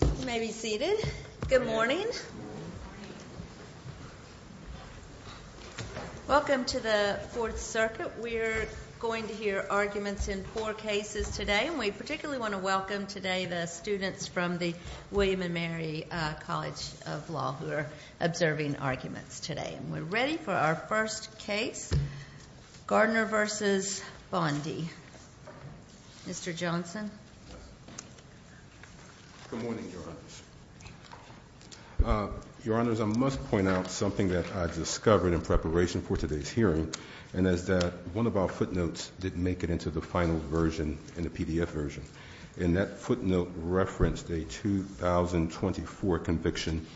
You may be seated. Good morning. Welcome to the Fourth Circuit. We're going to hear arguments in four cases today. And we particularly want to welcome today the students from the William & Mary College of Law who are observing arguments today. And we're ready for our first case, Gardner v. Bondi. Mr. Johnson. Good morning, Your Honors. Your Honors, I must point out something that I discovered in preparation for today's hearing, and that is that one of our footnotes didn't make it into the final version in the PDF version. And that footnote referenced a 2024 conviction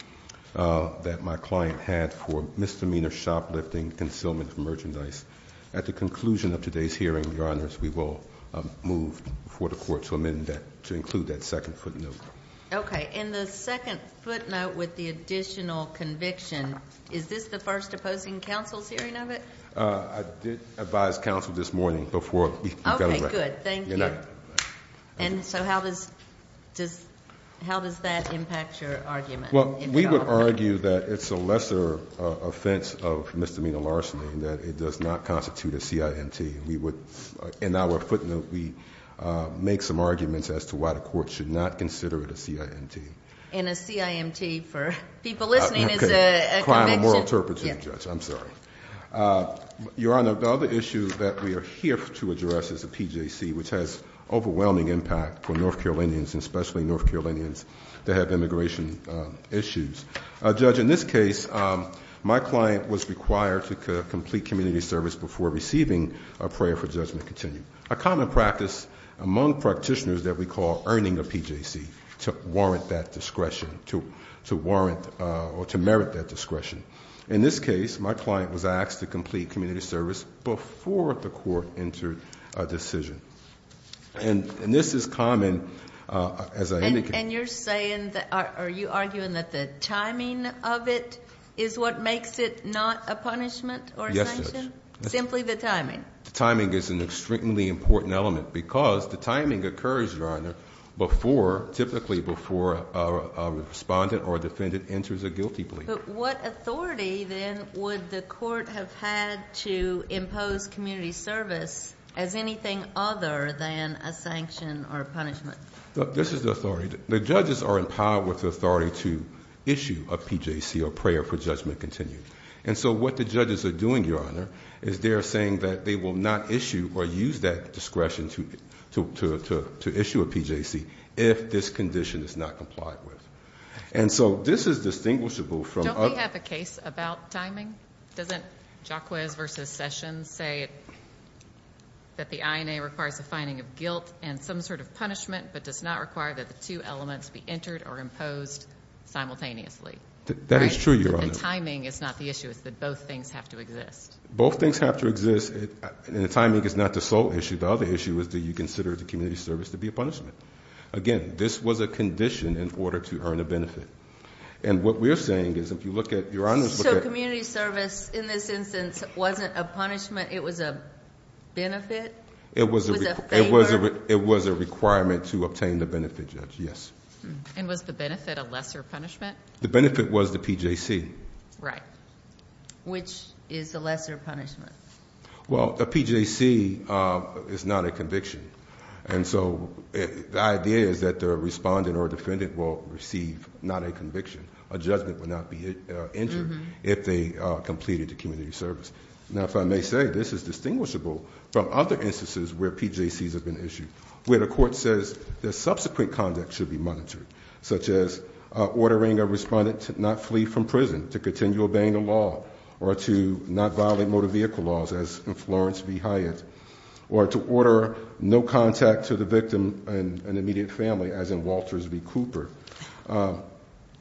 that my client had for misdemeanor shoplifting, concealment of merchandise. At the conclusion of today's hearing, Your Honors, we will move for the Court to amend that, to include that second footnote. Okay. And the second footnote with the additional conviction, is this the first opposing counsel's hearing of it? I did advise counsel this morning before we got elected. Okay, good. Thank you. And so how does that impact your argument? Well, we would argue that it's a lesser offense of misdemeanor larceny, that it does not constitute a CIMT. We would, in our footnote, we make some arguments as to why the Court should not consider it a CIMT. And a CIMT for people listening is a conviction. Okay, a crime of moral turpitude, Judge, I'm sorry. Your Honor, the other issue that we are here to address is the PJC, which has overwhelming impact for North Carolinians, especially North Carolinians that have immigration issues. Judge, in this case, my client was required to complete community service before receiving a prayer for judgment to continue. A common practice among practitioners that we call earning a PJC to warrant that discretion, to warrant or to merit that discretion. In this case, my client was asked to complete community service before the Court entered a decision. And this is common, as I indicated. And you're saying, are you arguing that the timing of it is what makes it not a punishment or a sanction? Yes, Judge. Simply the timing. The timing is an extremely important element because the timing occurs, Your Honor, before, typically before a respondent or a defendant enters a guilty plea. But what authority, then, would the Court have had to impose community service as anything other than a sanction or a punishment? This is the authority. The judges are empowered with the authority to issue a PJC or prayer for judgment to continue. And so what the judges are doing, Your Honor, is they are saying that they will not issue or use that discretion to issue a PJC if this condition is not complied with. And so this is distinguishable from other... Don't we have a case about timing? Doesn't Jacquez v. Sessions say that the INA requires a finding of guilt and some sort of punishment but does not require that the two elements be entered or imposed simultaneously? That is true, Your Honor. And timing is not the issue. It's that both things have to exist. Both things have to exist, and the timing is not the sole issue. The other issue is do you consider the community service to be a punishment? Again, this was a condition in order to earn a benefit. And what we're saying is if you look at... So community service in this instance wasn't a punishment. It was a benefit? It was a requirement to obtain the benefit, Judge, yes. And was the benefit a lesser punishment? The benefit was the PJC. Right. Which is the lesser punishment? Well, a PJC is not a conviction. And so the idea is that the respondent or defendant will receive not a conviction. A judgment would not be entered if they completed the community service. Now, if I may say, this is distinguishable from other instances where PJCs have been issued, where the court says the subsequent conduct should be monitored, such as ordering a respondent to not flee from prison, to continue obeying the law, or to not violate motor vehicle laws, as in Florence v. Hyatt, or to order no contact to the victim and immediate family, as in Walters v. Cooper.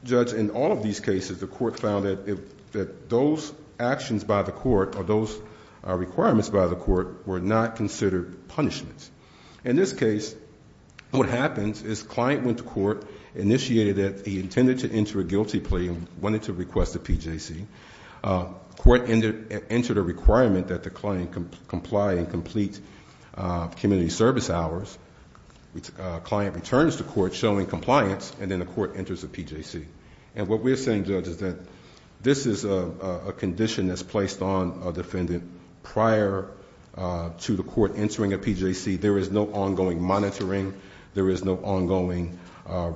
Judge, in all of these cases, the court found that those actions by the court or those requirements by the court were not considered punishments. In this case, what happens is client went to court, initiated that he intended to enter a guilty plea and wanted to request a PJC. Court entered a requirement that the client comply and complete community service hours. Client returns to court showing compliance, and then the court enters a PJC. What we're saying, Judge, is that this is a condition that's placed on a defendant prior to the court entering a PJC. There is no ongoing monitoring. There is no ongoing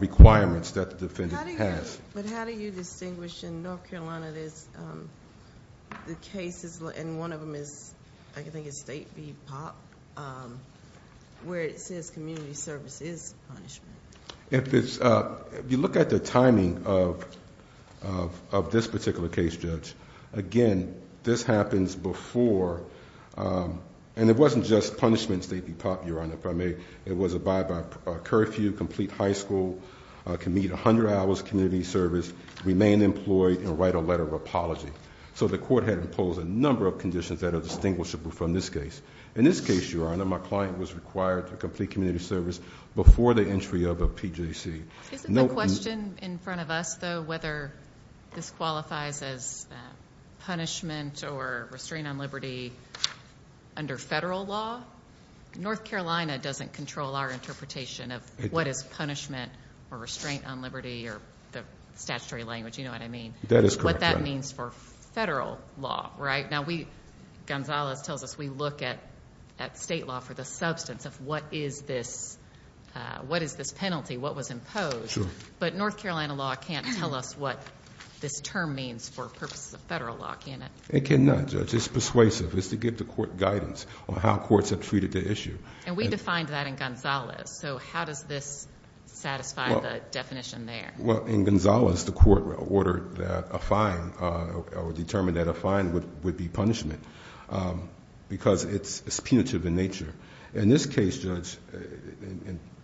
requirements that the defendant has. How do you distinguish in North Carolina the cases, and one of them is, I think it's State v. Pop, where it says community service is punishment? If you look at the timing of this particular case, Judge, again, this happens before. And it wasn't just punishments, State v. Pop, Your Honor, if I may. It was abide by curfew, complete high school, can meet 100 hours community service, remain employed, and write a letter of apology. So the court had imposed a number of conditions that are distinguishable from this case. In this case, Your Honor, my client was required to complete community service before the entry of a PJC. Isn't the question in front of us, though, whether this qualifies as punishment or restraint on liberty under federal law? North Carolina doesn't control our interpretation of what is punishment or restraint on liberty or the statutory language, you know what I mean? That is correct, Your Honor. What that means for federal law, right? Now, Gonzalez tells us we look at State law for the substance of what is this penalty, what was imposed. Sure. But North Carolina law can't tell us what this term means for purposes of federal law, can it? It cannot, Judge. It's persuasive. It's to give the court guidance on how courts have treated the issue. And we defined that in Gonzalez. So how does this satisfy the definition there? Well, in Gonzalez, the court ordered that a fine or determined that a fine would be punishment because it's punitive in nature. In this case, Judge,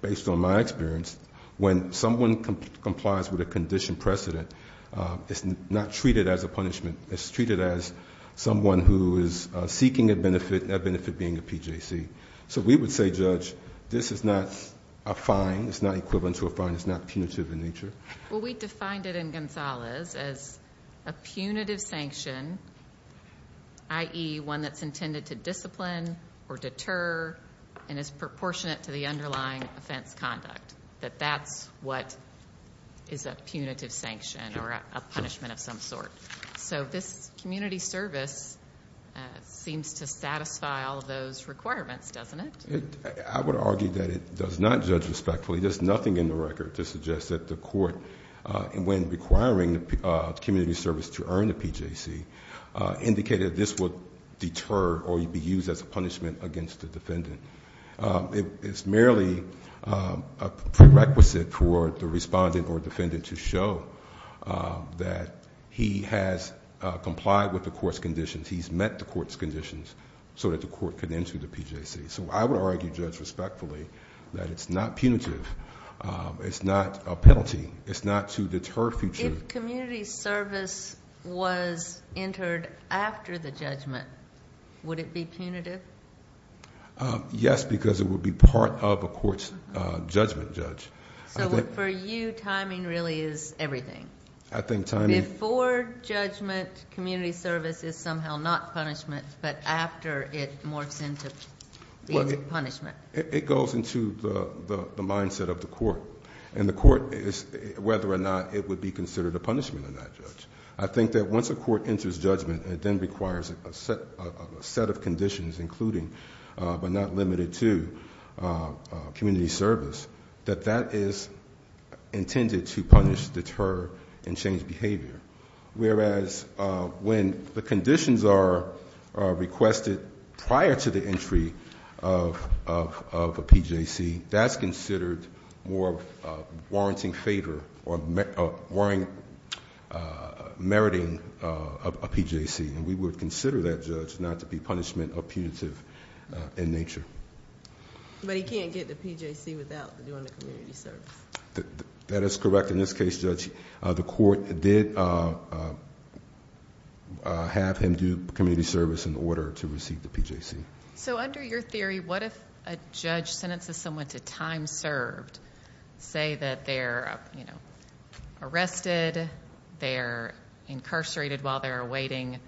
based on my experience, when someone complies with a condition precedent, it's not treated as a punishment. It's treated as someone who is seeking a benefit, that benefit being a PJC. So we would say, Judge, this is not a fine. It's not equivalent to a fine. It's not punitive in nature. Well, we defined it in Gonzalez as a punitive sanction, i.e., one that's intended to discipline or deter and is proportionate to the underlying offense conduct, that that's what is a punitive sanction or a punishment of some sort. So this community service seems to satisfy all of those requirements, doesn't it? I would argue that it does not, Judge, respectfully. There's nothing in the record to suggest that the court, when requiring the community service to earn a PJC, indicated this would deter or be used as a punishment against the defendant. It's merely a prerequisite for the respondent or defendant to show that he has complied with the court's conditions, he's met the court's conditions, so that the court can enter the PJC. So I would argue, Judge, respectfully, that it's not punitive. It's not a penalty. It's not to deter future. If community service was entered after the judgment, would it be punitive? Yes, because it would be part of a court's judgment, Judge. So for you, timing really is everything. I think timing... Before judgment, community service is somehow not punishment, but after it morphs into punishment. It goes into the mindset of the court, and the court is whether or not it would be considered a punishment or not, Judge. I think that once a court enters judgment, it then requires a set of conditions, including but not limited to community service, that that is intended to punish, deter, and change behavior. Whereas when the conditions are requested prior to the entry of a PJC, that's considered more of a warranting favor or meriting a PJC, and we would consider that, Judge, not to be punishment or punitive in nature. But he can't get the PJC without doing the community service. That is correct. In this case, Judge, the court did have him do community service in order to receive the PJC. So under your theory, what if a judge sentences someone to time served? Say that they're arrested, they're incarcerated while they're awaiting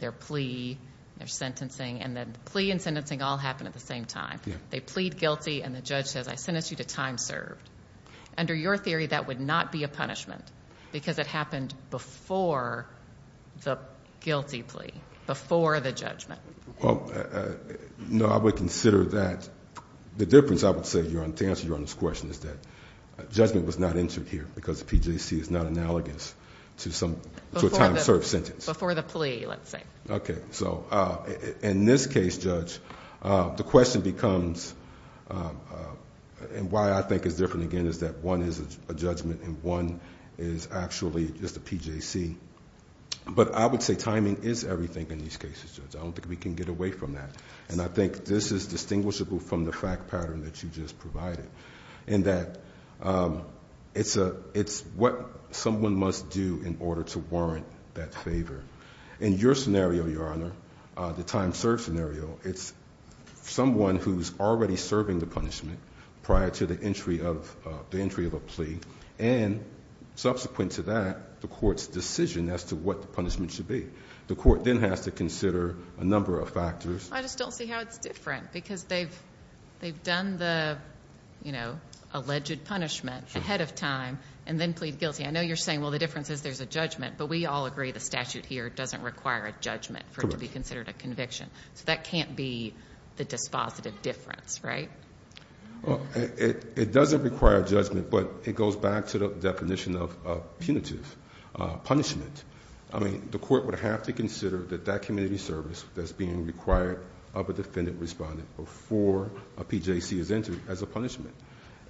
their plea, their sentencing, and the plea and sentencing all happen at the same time. They plead guilty, and the judge says, I sentence you to time served. Under your theory, that would not be a punishment because it happened before the guilty plea, before the judgment. No, I would consider that. The difference, I would say, to answer Your Honor's question is that judgment was not entered here because the PJC is not analogous to a time served sentence. Before the plea, let's say. Okay. So in this case, Judge, the question becomes, and why I think it's different, again, is that one is a judgment and one is actually just a PJC. But I would say timing is everything in these cases, Judge. I don't think we can get away from that. And I think this is distinguishable from the fact pattern that you just provided, in that it's what someone must do in order to warrant that favor. In your scenario, Your Honor, the time served scenario, it's someone who's already serving the punishment prior to the entry of a plea, and subsequent to that, the court's decision as to what the punishment should be. The court then has to consider a number of factors. I just don't see how it's different because they've done the, you know, alleged punishment ahead of time and then plead guilty. I know you're saying, well, the difference is there's a judgment, but we all agree the statute here doesn't require a judgment for it to be considered a conviction. So that can't be the dispositive difference, right? It doesn't require judgment, but it goes back to the definition of punitive punishment. I mean, the court would have to consider that that community service that's being required of a defendant respondent before a PJC is entered as a punishment.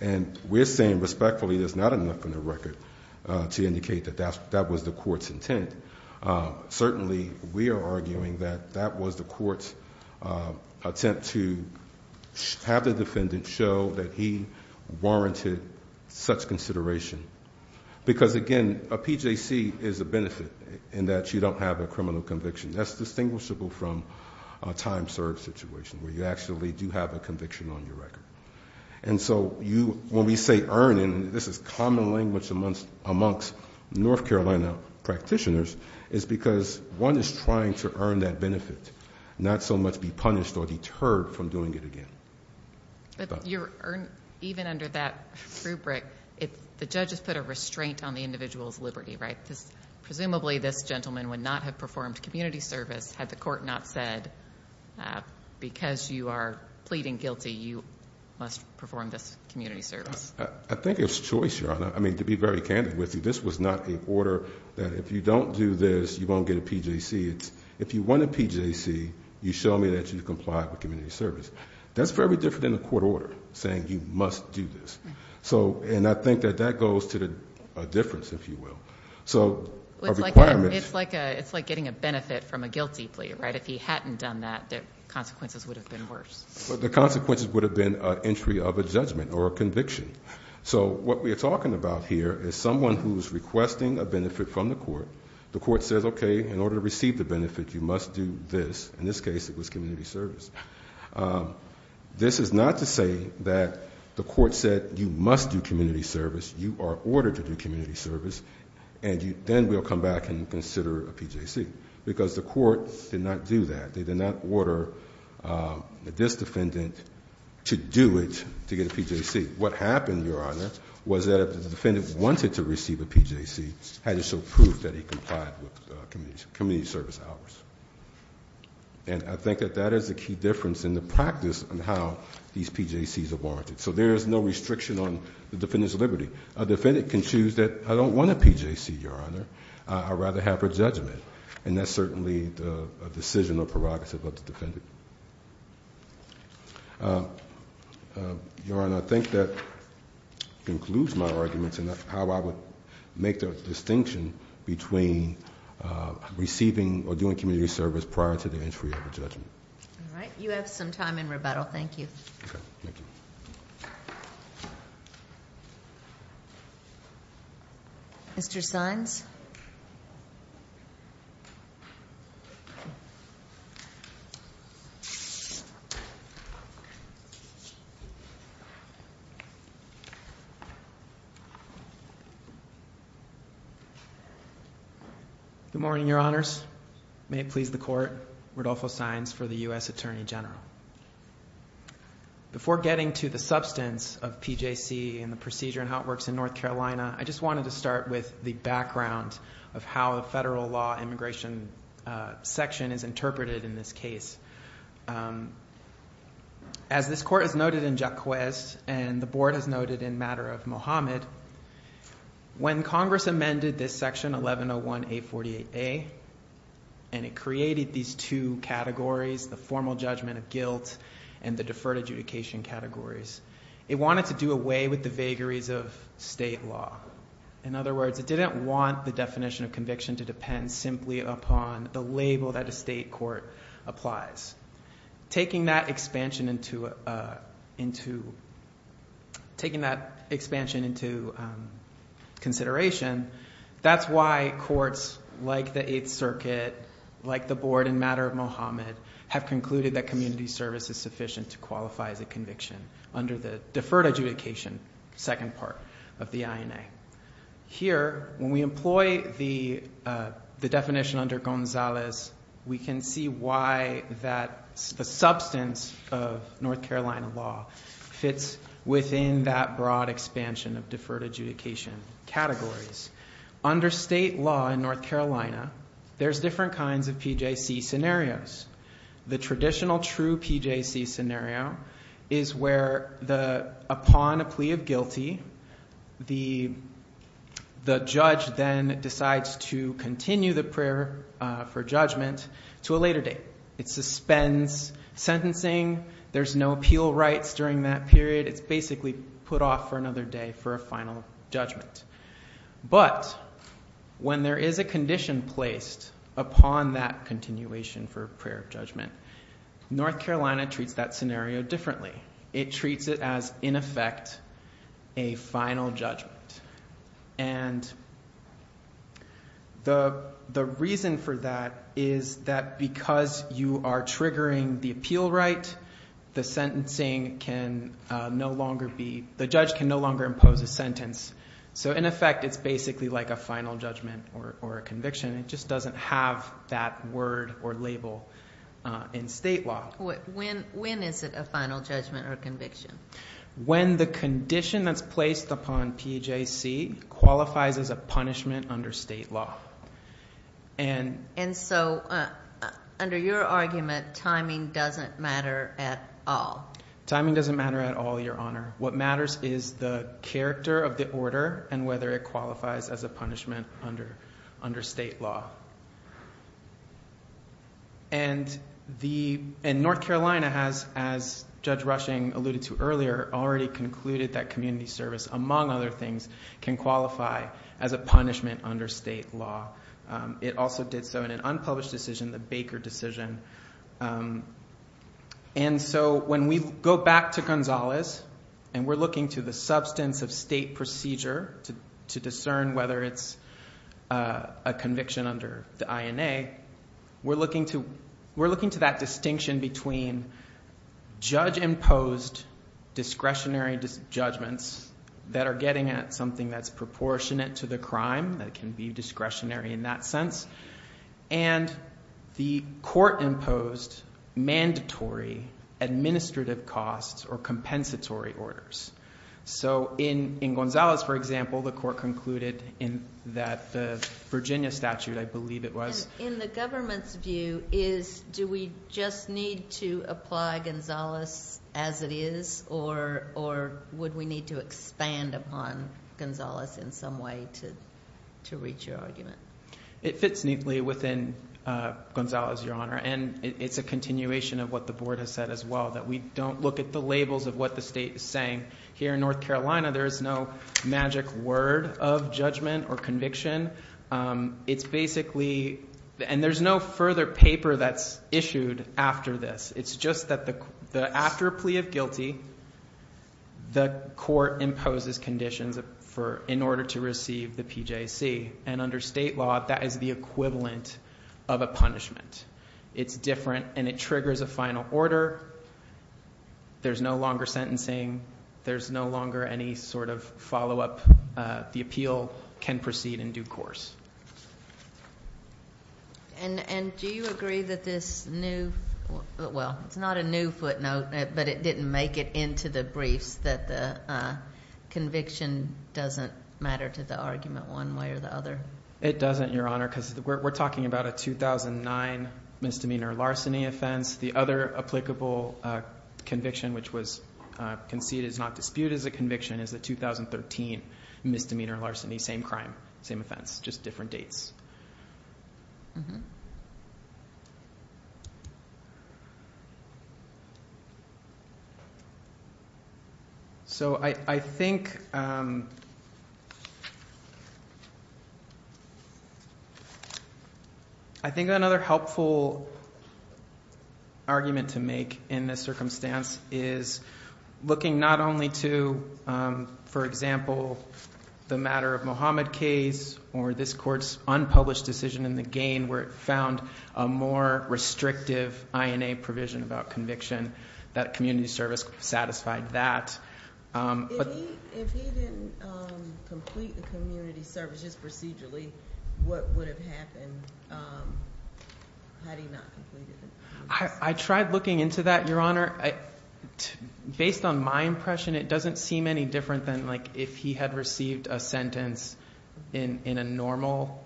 And we're saying respectfully there's not enough in the record to indicate that that was the court's intent. Certainly, we are arguing that that was the court's attempt to have the defendant show that he warranted such consideration. Because, again, a PJC is a benefit in that you don't have a criminal conviction. That's distinguishable from a time-served situation where you actually do have a conviction on your record. And so when we say earn, and this is common language amongst North Carolina practitioners, it's because one is trying to earn that benefit, not so much be punished or deterred from doing it again. Even under that rubric, the judge has put a restraint on the individual's liberty, right? Presumably, this gentleman would not have performed community service had the court not said, because you are pleading guilty, you must perform this community service. I think it's choice, Your Honor. I mean, to be very candid with you, this was not an order that if you don't do this, you won't get a PJC. If you want a PJC, you show me that you comply with community service. That's very different than a court order saying you must do this. And I think that that goes to a difference, if you will. It's like getting a benefit from a guilty plea, right? If he hadn't done that, the consequences would have been worse. The consequences would have been entry of a judgment or a conviction. So what we are talking about here is someone who is requesting a benefit from the court. The court says, okay, in order to receive the benefit, you must do this. In this case, it was community service. This is not to say that the court said you must do community service. You are ordered to do community service, and then we'll come back and consider a PJC. Because the court did not do that. They did not order this defendant to do it to get a PJC. What happened, Your Honor, was that if the defendant wanted to receive a PJC, had to show proof that he complied with community service hours. And I think that that is a key difference in the practice on how these PJCs are warranted. So there is no restriction on the defendant's liberty. A defendant can choose that I don't want a PJC, Your Honor. I'd rather have her judgment. And that's certainly a decision or prerogative of the defendant. Your Honor, I think that concludes my arguments on how I would make the distinction between receiving or doing community service prior to the entry of a judgment. All right, you have some time in rebuttal. Thank you. Okay, thank you. Mr. Sines? Good morning, Your Honors. May it please the Court, Rodolfo Sines for the U.S. Attorney General. Before getting to the substance of PJC and the procedure and how it works in North Carolina, I just wanted to start with the background of how a federal law immigration section is interpreted in this case. As this Court has noted in Jacques' and the Board has noted in matter of Mohamed, when Congress amended this section 1101A48A and it created these two categories, the formal judgment of guilt and the deferred adjudication categories, it wanted to do away with the vagaries of state law. In other words, it didn't want the definition of conviction to depend simply upon the label that a state court applies. Taking that expansion into consideration, that's why courts like the Eighth Circuit, like the Board in matter of Mohamed, have concluded that community service is sufficient to qualify as a conviction under the deferred adjudication second part of the INA. Here, when we employ the definition under Gonzalez, we can see why the substance of North Carolina law fits within that broad expansion of deferred adjudication categories. Under state law in North Carolina, there's different kinds of PJC scenarios. The traditional true PJC scenario is where upon a plea of guilty, the judge then decides to continue the prayer for judgment to a later date. It suspends sentencing. There's no appeal rights during that period. It's basically put off for another day for a final judgment. But when there is a condition placed upon that continuation for a prayer of judgment, North Carolina treats that scenario differently. It treats it as, in effect, a final judgment. And the reason for that is that because you are triggering the appeal right, the judge can no longer impose a sentence. So in effect, it's basically like a final judgment or a conviction. It just doesn't have that word or label in state law. When is it a final judgment or conviction? When the condition that's placed upon PJC qualifies as a punishment under state law. And so under your argument, timing doesn't matter at all. Timing doesn't matter at all, Your Honor. What matters is the character of the order and whether it qualifies as a punishment under state law. And North Carolina has, as Judge Rushing alluded to earlier, already concluded that community service, among other things, can qualify as a punishment under state law. It also did so in an unpublished decision, the Baker decision. And so when we go back to Gonzalez and we're looking to the substance of state procedure to discern whether it's a conviction under the INA, we're looking to that distinction between judge-imposed discretionary judgments that are getting at something that's proportionate to the crime, that can be discretionary in that sense, and the court-imposed mandatory administrative costs or compensatory orders. So in Gonzalez, for example, the court concluded in that Virginia statute, I believe it was. And in the government's view, do we just need to apply Gonzalez as it is or would we need to expand upon Gonzalez in some way to reach your argument? It fits neatly within Gonzalez, Your Honor. And it's a continuation of what the board has said as well, that we don't look at the labels of what the state is saying. Here in North Carolina, there is no magic word of judgment or conviction. It's basically, and there's no further paper that's issued after this. It's just that after a plea of guilty, the court imposes conditions in order to receive the PJC. And under state law, that is the equivalent of a punishment. It's different, and it triggers a final order. There's no longer sentencing. There's no longer any sort of follow-up. The appeal can proceed in due course. And do you agree that this new, well, it's not a new footnote, but it didn't make it into the briefs, that the conviction doesn't matter to the argument one way or the other? It doesn't, Your Honor, because we're talking about a 2009 misdemeanor larceny offense. The other applicable conviction, which was conceded, is not disputed as a conviction, is a 2013 misdemeanor larceny. Same crime, same offense, just different dates. So I think another helpful argument to make in this circumstance is looking not only to, for example, the matter of Mohamed case or this court's unlawful conviction, where it found a more restrictive INA provision about conviction, that community service satisfied that. If he didn't complete the community services procedurally, what would have happened had he not completed it? I tried looking into that, Your Honor. Based on my impression, it doesn't seem any different than if he had received a sentence in a normal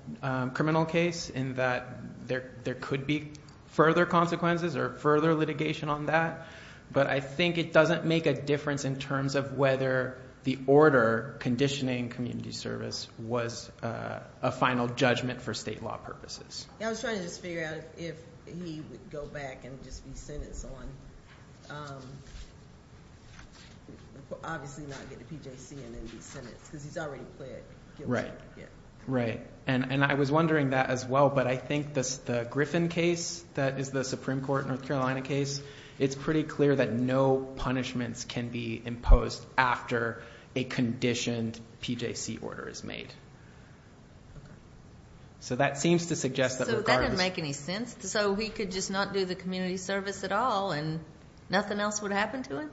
criminal case, in that there could be further consequences or further litigation on that. But I think it doesn't make a difference in terms of whether the order conditioning community service was a final judgment for state law purposes. I was trying to just figure out if he would go back and just be sentenced on obviously not get a PJC and then be sentenced, because he's already pled guilty. And I was wondering that as well, but I think the Griffin case, that is the Supreme Court North Carolina case, it's pretty clear that no punishments can be imposed after a conditioned PJC order is made. So that seems to suggest that regardless... So that didn't make any sense. So he could just not do the community service at all and nothing else would happen to him?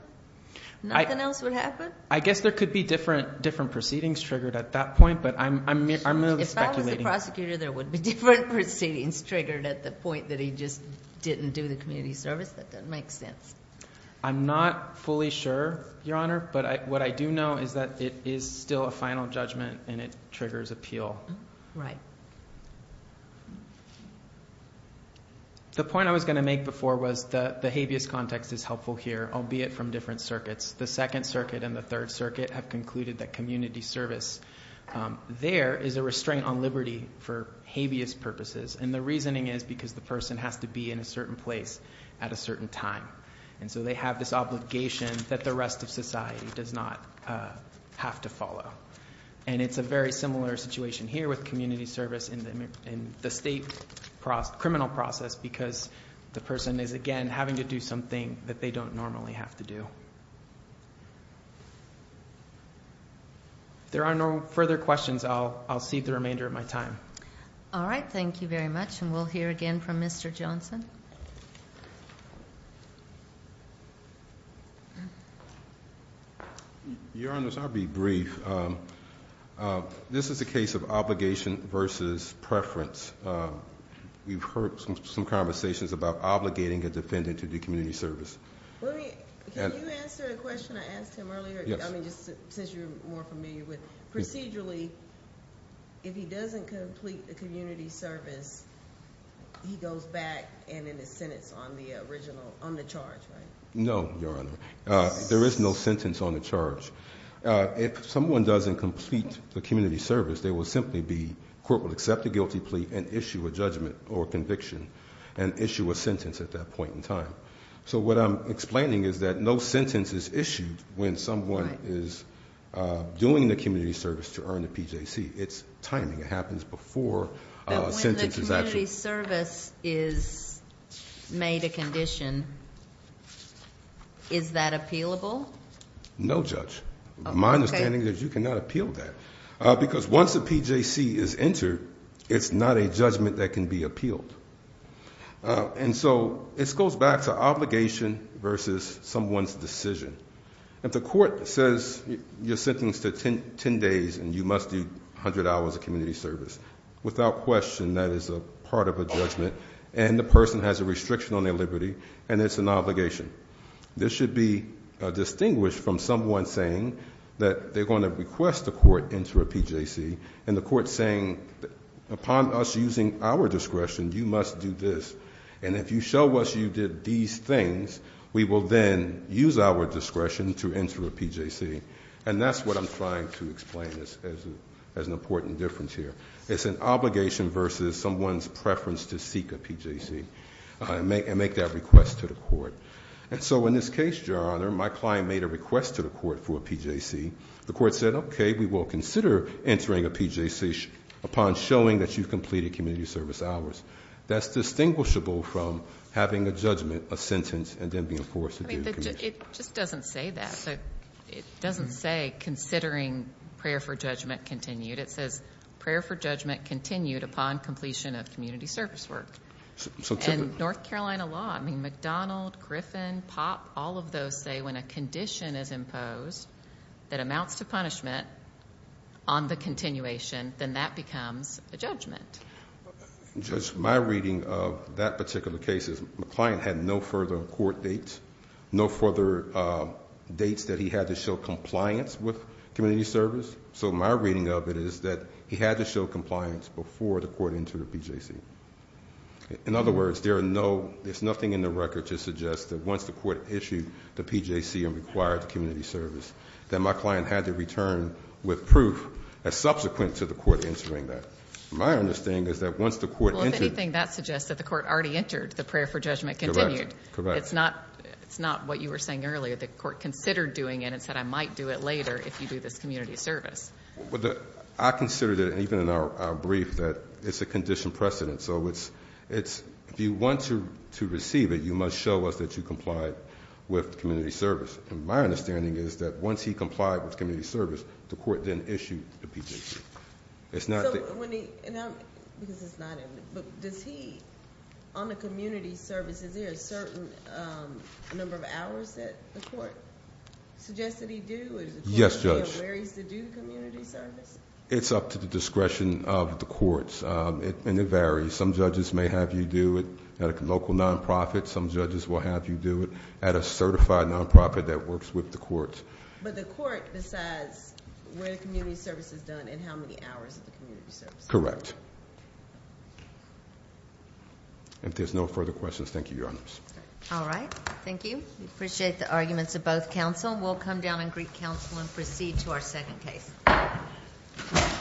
Nothing else would happen? I guess there could be different proceedings triggered at that point, but I'm merely speculating. If Bob was the prosecutor, there would be different proceedings triggered at the point that he just didn't do the community service? That doesn't make sense. I'm not fully sure, Your Honor, but what I do know is that it is still a final judgment and it triggers appeal. Right. The point I was going to make before was the habeas context is helpful here, albeit from different circuits. The Second Circuit and the Third Circuit have concluded that community service there is a restraint on liberty for habeas purposes, and the reasoning is because the person has to be in a certain place at a certain time. And so they have this obligation that the rest of society does not have to follow. And it's a very similar situation here with community service in the state criminal process because the person is, again, having to do something that they don't normally have to do. If there are no further questions, I'll cede the remainder of my time. All right. Thank you very much. And we'll hear again from Mr. Johnson. Your Honor, I'll be brief. This is a case of obligation versus preference. We've heard some conversations about obligating a defendant to do community service. Can you answer a question I asked him earlier? Yes. I mean, just since you're more familiar with it. Procedurally, if he doesn't complete the community service, he goes back and then is sentenced on the charge, right? No, Your Honor. There is no sentence on the charge. If someone doesn't complete the community service, there will simply be, court will accept the guilty plea and issue a judgment or conviction and issue a sentence at that point in time. So what I'm explaining is that no sentence is issued when someone is doing the community service to earn a PJC. It's timing. It happens before a sentence is actually. When the community service is made a condition, is that appealable? No, Judge. My understanding is you cannot appeal that. Because once a PJC is entered, it's not a judgment that can be appealed. And so this goes back to obligation versus someone's decision. If the court says you're sentenced to 10 days and you must do 100 hours of community service, without question that is a part of a judgment and the person has a restriction on their liberty and it's an obligation. This should be distinguished from someone saying that they're going to request the court enter a PJC and the court saying upon us using our discretion, you must do this. And if you show us you did these things, we will then use our discretion to enter a PJC. And that's what I'm trying to explain as an important difference here. It's an obligation versus someone's preference to seek a PJC and make that request to the court. And so in this case, Your Honor, my client made a request to the court for a PJC. The court said, okay, we will consider entering a PJC upon showing that you've completed community service hours. That's distinguishable from having a judgment, a sentence, and then being forced to do community service. It just doesn't say that. It doesn't say considering prayer for judgment continued. It says prayer for judgment continued upon completion of community service work. And North Carolina law, I mean, McDonald, Griffin, Pop, all of those say when a condition is imposed that amounts to punishment on the continuation, then that becomes a judgment. Judge, my reading of that particular case is my client had no further court dates, no further dates that he had to show compliance with community service. So my reading of it is that he had to show compliance before the court entered a PJC. In other words, there's nothing in the record to suggest that once the court issued the PJC and required the community service, that my client had to return with proof as subsequent to the court entering that. My understanding is that once the court entered... Well, if anything, that suggests that the court already entered the prayer for judgment continued. It's not what you were saying earlier. The court considered doing it and said I might do it later if you do this community service. I consider that even in our brief that it's a condition precedent. So if you want to receive it, you must show us that you complied with community service. And my understanding is that once he complied with community service, the court then issued the PJC. It's not that... Does he, on the community services, is there a certain number of hours that the court suggests that he do? Yes, Judge. Where he's to do community service? It's up to the discretion of the courts, and it varies. Some judges may have you do it at a local non-profit. Some judges will have you do it at a certified non-profit that works with the courts. But the court decides where the community service is done and how many hours of the community service. Correct. If there's no further questions, thank you, Your Honors. All right. Thank you. We appreciate the arguments of both counsel. We'll come down on Greek counsel and proceed to our second case.